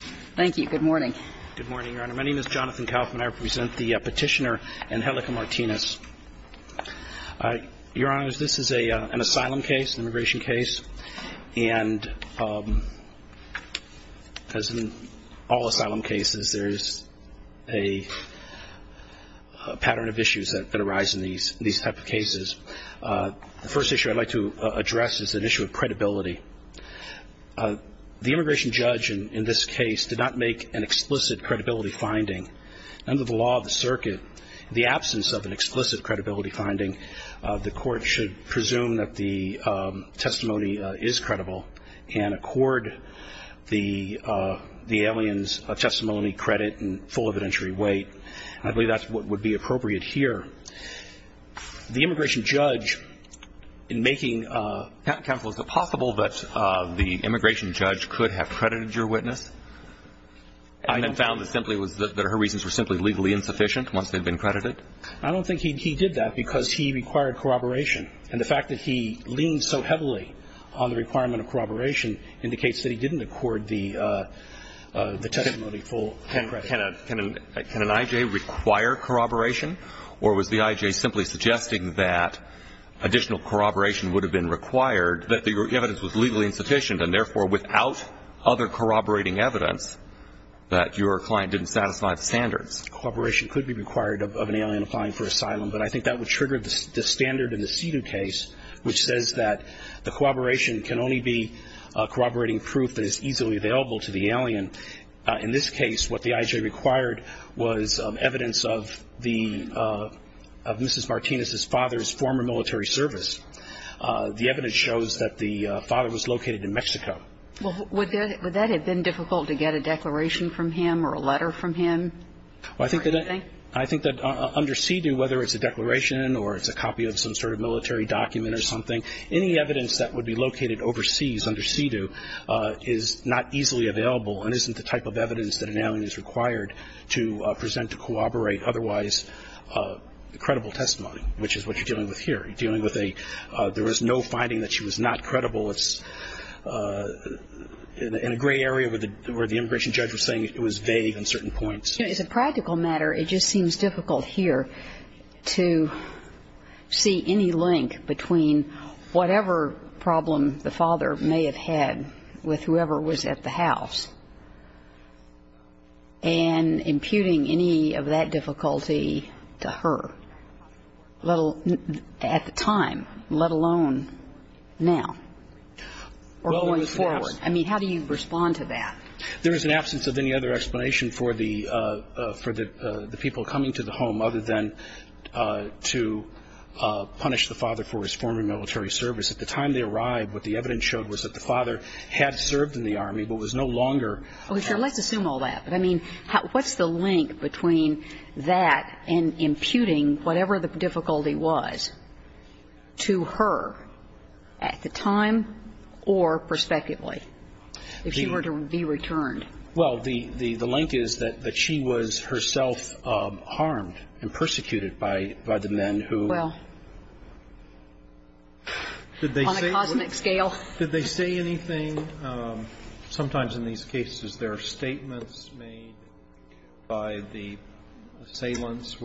Thank you. Good morning. Good morning, Your Honor. My name is Jonathan Kaufman. I represent the petitioner Angelica Martinez. Your Honor, this is an asylum case, an immigration case, and as in all asylum cases, there is a pattern of issues that arise in these type of cases. The first issue I'd like to address is an issue of credibility. The immigration judge in this case did not make an explicit credibility finding. Under the law of the circuit, in the absence of an explicit credibility finding, the court should presume that the testimony is credible and accord the alien's testimony credit and full evidentiary weight. I believe that's what would be appropriate here. The immigration judge in making a – Counsel, is it possible that the immigration judge could have credited your witness? I don't – And found that simply was – that her reasons were simply legally insufficient once they'd been credited? I don't think he did that because he required corroboration. And the fact that he leaned so heavily on the requirement of corroboration indicates that he didn't accord the testimony full credibility. Can an I.J. require corroboration, or was the I.J. simply suggesting that additional corroboration would have been required, that the evidence was legally insufficient, and therefore without other corroborating evidence, that your client didn't satisfy the standards? Corroboration could be required of an alien applying for asylum, but I think that would trigger the standard in the SEDU case, which says that the corroboration can only be corroborating proof that is easily available to the alien. In this case, what the I.J. required was evidence of Mrs. Martinez's father's former military service. The evidence shows that the father was located in Mexico. Would that have been difficult to get a declaration from him or a letter from him? I think that under SEDU, whether it's a declaration or it's a copy of some sort of military document or something, any evidence that would be located overseas under SEDU is not easily available. And isn't the type of evidence that an alien is required to present to corroborate otherwise credible testimony, which is what you're dealing with here. You're dealing with a – there was no finding that she was not credible. It's in a gray area where the immigration judge was saying it was vague on certain points. It's a practical matter. It just seems difficult here to see any link between whatever problem the father may have had with whoever was at the house and imputing any of that difficulty to her at the time, let alone now or going forward. I mean, how do you respond to that? There is an absence of any other explanation for the – for the people coming to the home other than to punish the father for his former military service. At the time they arrived, what the evidence showed was that the father had served in the Army but was no longer. Okay. So let's assume all that. But, I mean, what's the link between that and imputing whatever the difficulty was to her at the time or prospectively if she were to be returned? Well, the link is that she was herself harmed and persecuted by the men who – Well, on a cosmic scale. Did they say anything? Sometimes in these cases there are statements made by the assailants.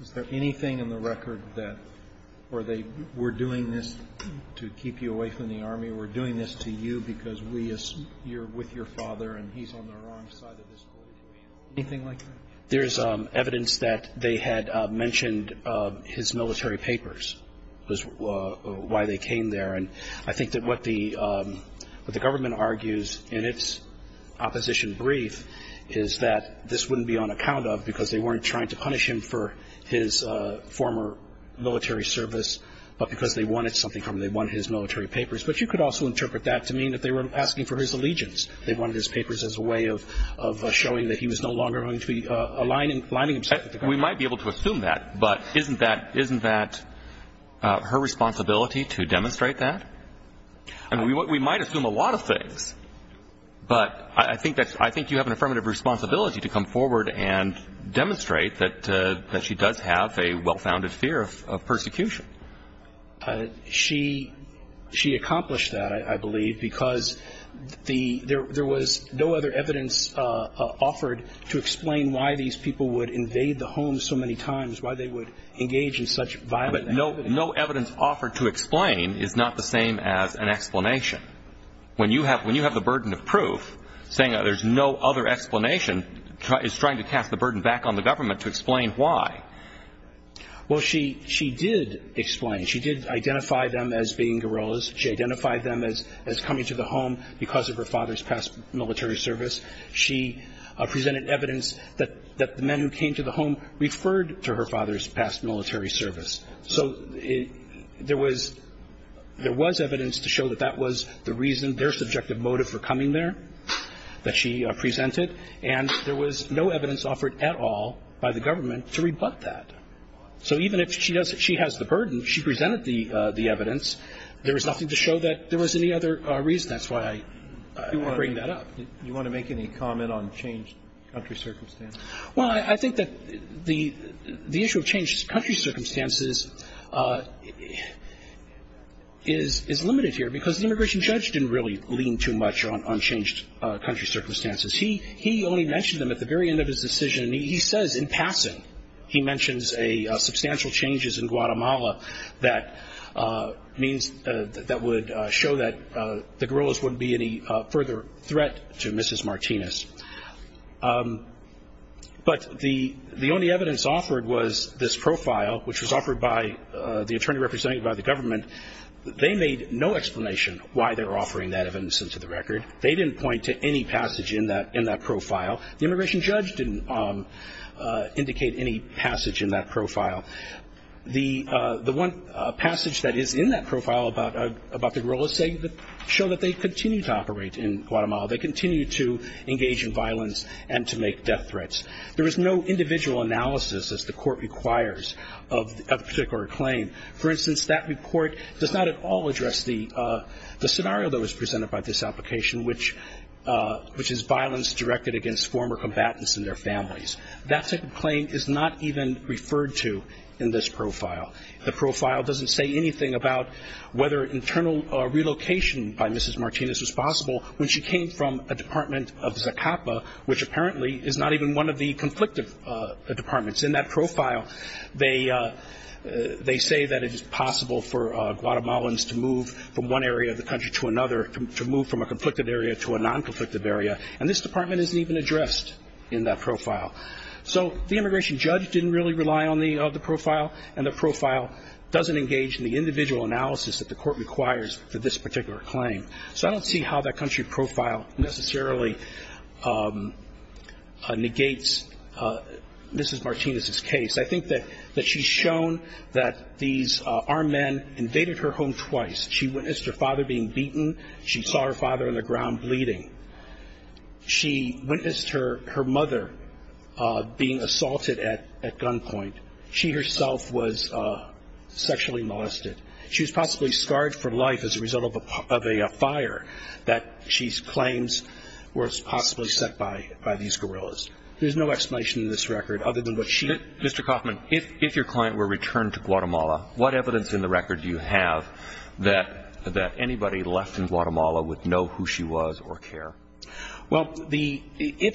Is there anything in the record that – or they were doing this to keep you away from the Army? We're doing this to you because we – you're with your father and he's on the wrong side of this whole situation? Anything like that? There is evidence that they had mentioned his military papers was why they came there. And I think that what the government argues in its opposition brief is that this wouldn't be on account of because they weren't trying to punish him for his former military service, but because they wanted something from him. They wanted his military papers. But you could also interpret that to mean that they were asking for his allegiance. They wanted his papers as a way of showing that he was no longer going to be aligning himself with the government. We might be able to assume that, but isn't that her responsibility to demonstrate that? I mean, we might assume a lot of things, but I think you have an affirmative responsibility to come forward and demonstrate that she does have a well-founded fear of persecution. She accomplished that, I believe, because there was no other evidence offered to explain why these people would invade the homes so many times, why they would engage in such violent activity. But no evidence offered to explain is not the same as an explanation. When you have the burden of proof, saying that there's no other explanation is trying to cast the burden back on the government to explain why. Well, she did explain. She did identify them as being guerrillas. She identified them as coming to the home because of her father's past military service. She presented evidence that the men who came to the home referred to her father's past military service. So there was evidence to show that that was the reason, their subjective motive for coming there, that she presented, and there was no evidence offered at all by the government to rebut that. So even if she has the burden, she presented the evidence. There was nothing to show that there was any other reason. That's why I bring that up. You want to make any comment on changed country circumstances? Well, I think that the issue of changed country circumstances is limited here because the immigration judge didn't really lean too much on changed country circumstances. He only mentioned them at the very end of his decision, and he says in passing, he mentions substantial changes in Guatemala that would show that the guerrillas wouldn't be any further threat to Mrs. Martinez. But the only evidence offered was this profile, which was offered by the attorney represented by the government. They made no explanation why they were offering that evidence into the record. They didn't point to any passage in that profile. The immigration judge didn't indicate any passage in that profile. The one passage that is in that profile about the guerrillas show that they continue to operate in Guatemala. They continue to engage in violence and to make death threats. There is no individual analysis, as the court requires, of a particular claim. For instance, that report does not at all address the scenario that was presented by this application, which is violence directed against former combatants and their families. That type of claim is not even referred to in this profile. The profile doesn't say anything about whether internal relocation by Mrs. Martinez was possible when she came from a department of ZACAPA, which apparently is not even one of the conflictive departments. In that profile, they say that it is possible for Guatemalans to move from one area of the country to another, to move from a conflicted area to a non-conflicted area, and this department isn't even addressed in that profile. So the immigration judge didn't really rely on the profile, and the profile doesn't engage in the individual analysis that the court requires for this particular claim. So I don't see how that country profile necessarily negates Mrs. Martinez's case. I think that she's shown that these armed men invaded her home twice. She witnessed her father being beaten. She saw her father on the ground bleeding. She witnessed her mother being assaulted at gunpoint. She herself was sexually molested. She was possibly scarred for life as a result of a fire that she claims was possibly set by these guerrillas. There's no explanation in this record other than what she did. Mr. Kaufman, if your client were returned to Guatemala, what evidence in the record do you have that anybody left in Guatemala would know who she was or care? Well, the – I'm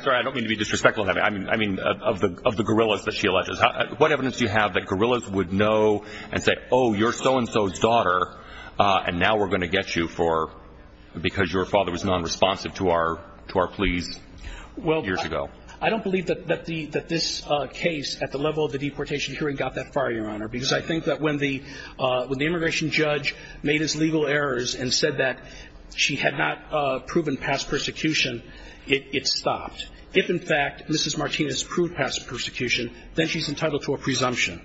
sorry, I don't mean to be disrespectful. I mean of the guerrillas that she alleges. What evidence do you have that guerrillas would know and say, oh, you're so-and-so's daughter, and now we're going to get you because your father was nonresponsive to our pleas years ago? Well, I don't believe that this case at the level of the deportation hearing got that far, Your Honor, because I think that when the immigration judge made his legal errors and said that she had not proven past persecution, it stopped. If, in fact, Mrs. Martinez proved past persecution, then she's entitled to a presumption.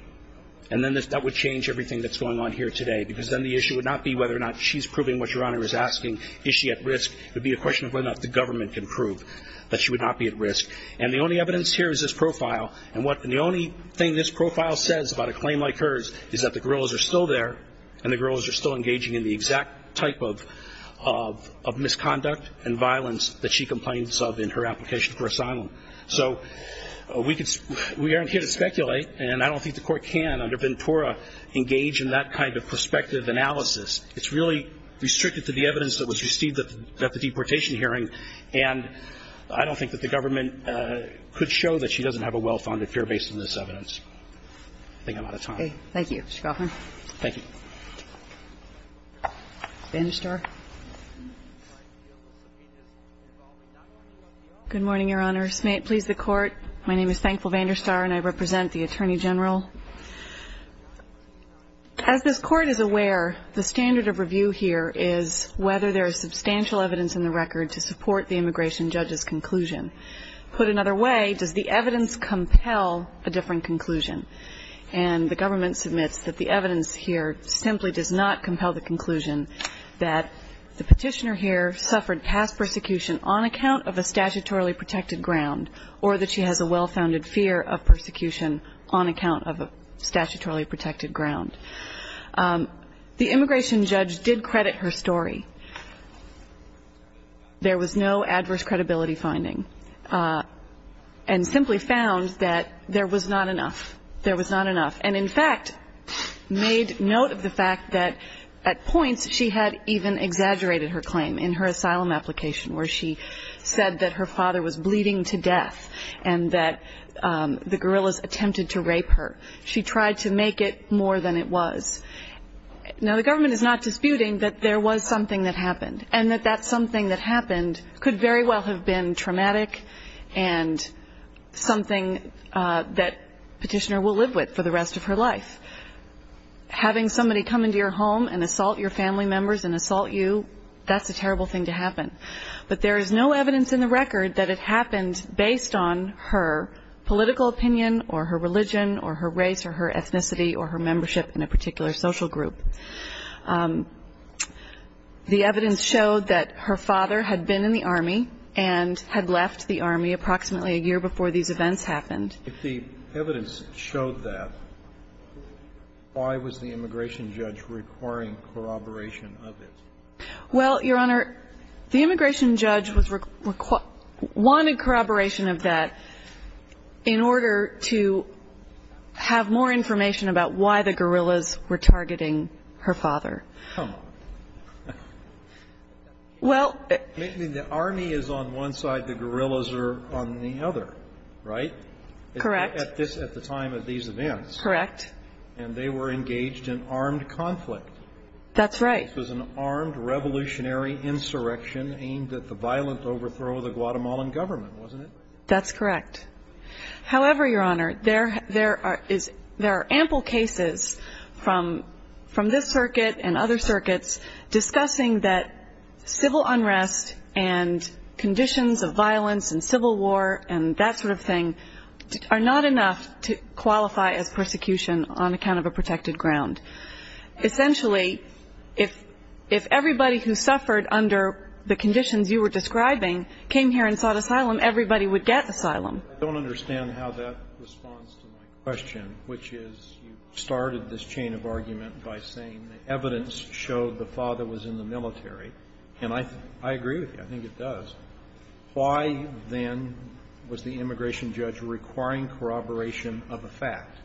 And then that would change everything that's going on here today because then the issue would not be whether or not she's proving what Your Honor is asking. Is she at risk? It would be a question of whether or not the government can prove that she would not be at risk. And the only evidence here is this profile. And the only thing this profile says about a claim like hers is that the guerrillas are still there and the guerrillas are still engaging in the exact type of misconduct and violence that she complains of in her application for asylum. So we could – we aren't here to speculate, and I don't think the Court can under Ventura engage in that kind of prospective analysis. It's really restricted to the evidence that was received at the deportation hearing, and I don't think that the government could show that she doesn't have a well-founded fear based on this evidence. I think I'm out of time. Okay. Thank you, Mr. Goffin. Thank you. Vander Star. Good morning, Your Honor. May it please the Court. My name is Thankful Vander Star, and I represent the Attorney General. As this Court is aware, the standard of review here is whether there is substantial evidence in the record to support the immigration judge's conclusion. Put another way, does the evidence compel a different conclusion? And the government submits that the evidence here simply does not compel the conclusion that the petitioner here suffered past persecution on account of a statutorily protected ground or that she has a well-founded fear of persecution on account of a statutorily protected ground. The immigration judge did credit her story. There was no adverse credibility finding and simply found that there was not enough. There was not enough. And, in fact, made note of the fact that at points she had even exaggerated her claim in her asylum application where she said that her father was bleeding to death and that the guerrillas attempted to rape her. She tried to make it more than it was. Now, the government is not disputing that there was something that happened and that that something that happened could very well have been traumatic and something that the petitioner will live with for the rest of her life. Having somebody come into your home and assault your family members and assault you, that's a terrible thing to happen. But there is no evidence in the record that it happened based on her political opinion or her religion or her race or her ethnicity or her membership in a particular social group. The evidence showed that her father had been in the Army and had left the Army approximately a year before these events happened. If the evidence showed that, why was the immigration judge requiring corroboration of it? Well, Your Honor, the immigration judge was – wanted corroboration of that in order to have more information about why the guerrillas were targeting her father. Oh. Well – The Army is on one side, the guerrillas are on the other, right? Correct. At the time of these events. Correct. And they were engaged in armed conflict. That's right. This was an armed revolutionary insurrection aimed at the violent overthrow of the Guatemalan government, wasn't it? That's correct. However, Your Honor, there are ample cases from this circuit and other circuits discussing that civil unrest and conditions of violence and civil war and that sort of thing are not enough to qualify as persecution on account of a protected ground. Essentially, if everybody who suffered under the conditions you were describing came here and sought asylum, everybody would get asylum. I don't understand how that responds to my question, which is you started this chain of argument by saying the evidence showed the father was in the military. And I agree with you. I think it does. Why, then, was the immigration judge requiring corroboration of a fact?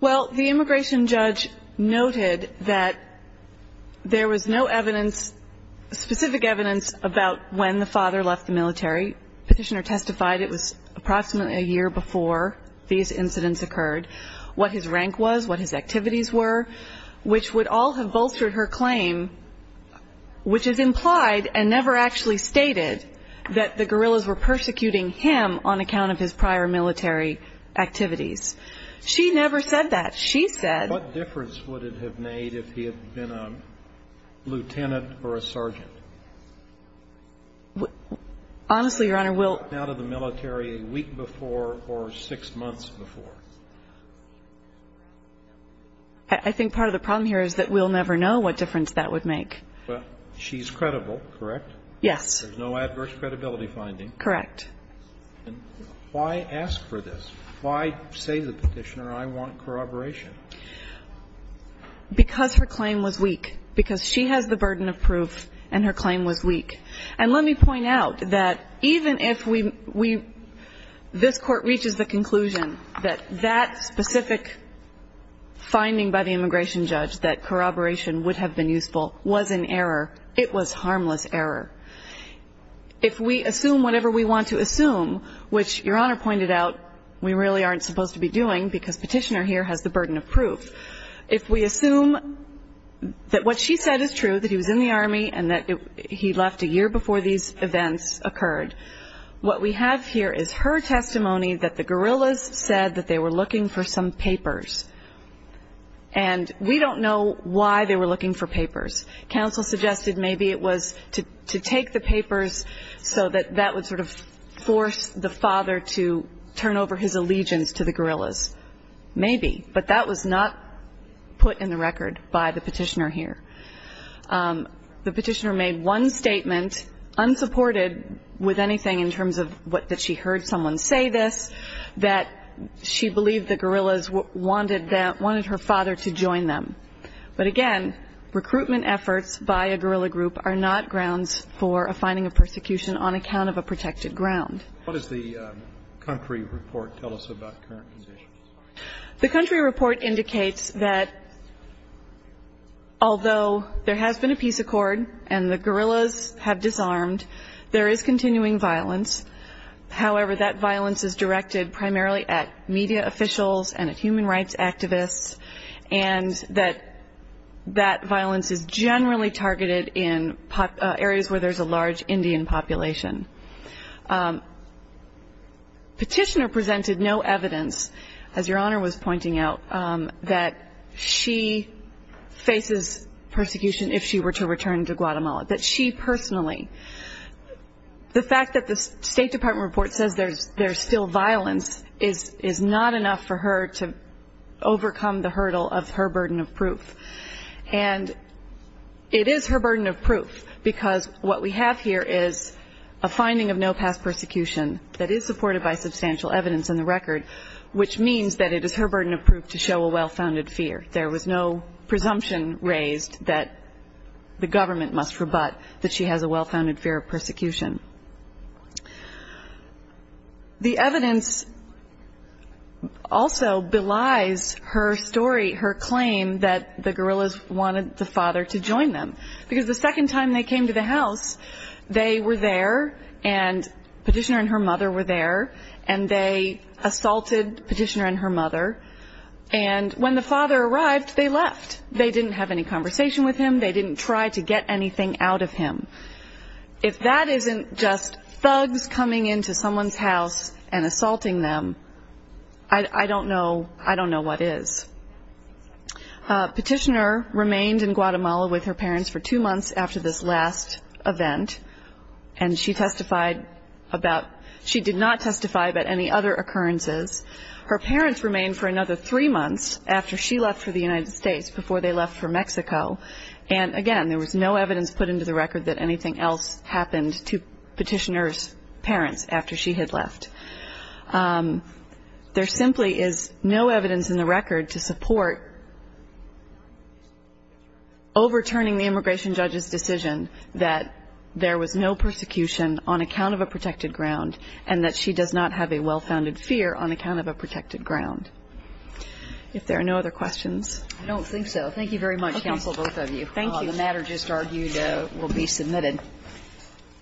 Well, the immigration judge noted that there was no evidence, specific evidence, about when the father left the military. Petitioner testified it was approximately a year before these incidents occurred, what his rank was, what his activities were, which would all have bolstered her claim, which is implied and never actually stated that the guerrillas were persecuting him on account of his prior military activities. She never said that. She said he had been a lieutenant or a sergeant. Honestly, Your Honor, we'll out of the military a week before or six months before. I think part of the problem here is that we'll never know what difference that would make. She's credible, correct? Yes. There's no adverse credibility finding. Correct. And why ask for this? Why say to the petitioner, I want corroboration? Because her claim was weak. Because she has the burden of proof and her claim was weak. And let me point out that even if we — this Court reaches the conclusion that that specific finding by the immigration judge, that corroboration would have been useful, was an error, it was harmless error. If we assume whatever we want to assume, which Your Honor pointed out, we really aren't supposed to be doing because petitioner here has the burden of proof. If we assume that what she said is true, that he was in the Army and that he left a year before these events occurred, what we have here is her testimony that the guerrillas said that they were looking for some papers. Counsel suggested maybe it was to take the papers so that that would sort of force the father to turn over his allegiance to the guerrillas. Maybe. But that was not put in the record by the petitioner here. The petitioner made one statement, unsupported with anything in terms of that she heard someone say this, that she believed the guerrillas wanted her father to join them. But again, recruitment efforts by a guerrilla group are not grounds for a finding of persecution on account of a protected ground. What does the country report tell us about current positions? The country report indicates that although there has been a peace accord and the guerrillas have disarmed, there is continuing violence. However, that violence is directed primarily at media officials and at human rights activists and that that violence is generally targeted in areas where there's a large Indian population. Petitioner presented no evidence, as Your Honor was pointing out, that she faces persecution if she were to return to Guatemala, that she personally. The fact that the State Department report says there's still violence is not enough for her to overcome the hurdle of her burden of proof. And it is her burden of proof because what we have here is a finding of no past persecution that is supported by substantial evidence in the record, which means that it is her burden of proof to show a well-founded fear. There was no presumption raised that the government must rebut that she has a well-founded fear of persecution. The evidence also belies her story, her claim that the guerrillas wanted the father to join them. Because the second time they came to the house, they were there, and Petitioner and her mother were there, and they assaulted Petitioner and her mother. And when the father arrived, they left. They didn't have any conversation with him. They didn't try to get anything out of him. If that isn't just thugs coming into someone's house and assaulting them, I don't know what is. Petitioner remained in Guatemala with her parents for two months after this last event, and she did not testify about any other occurrences. Her parents remained for another three months after she left for the United States, before they left for Mexico. And, again, there was no evidence put into the record that anything else happened to Petitioner's parents after she had left. There simply is no evidence in the record to support overturning the immigration judge's decision that there was no persecution on account of a protected ground and that she does not have a well-founded fear on account of a protected ground. If there are no other questions. I don't think so. Thank you very much, counsel, both of you. Thank you. The matter just argued will be submitted. Thank you.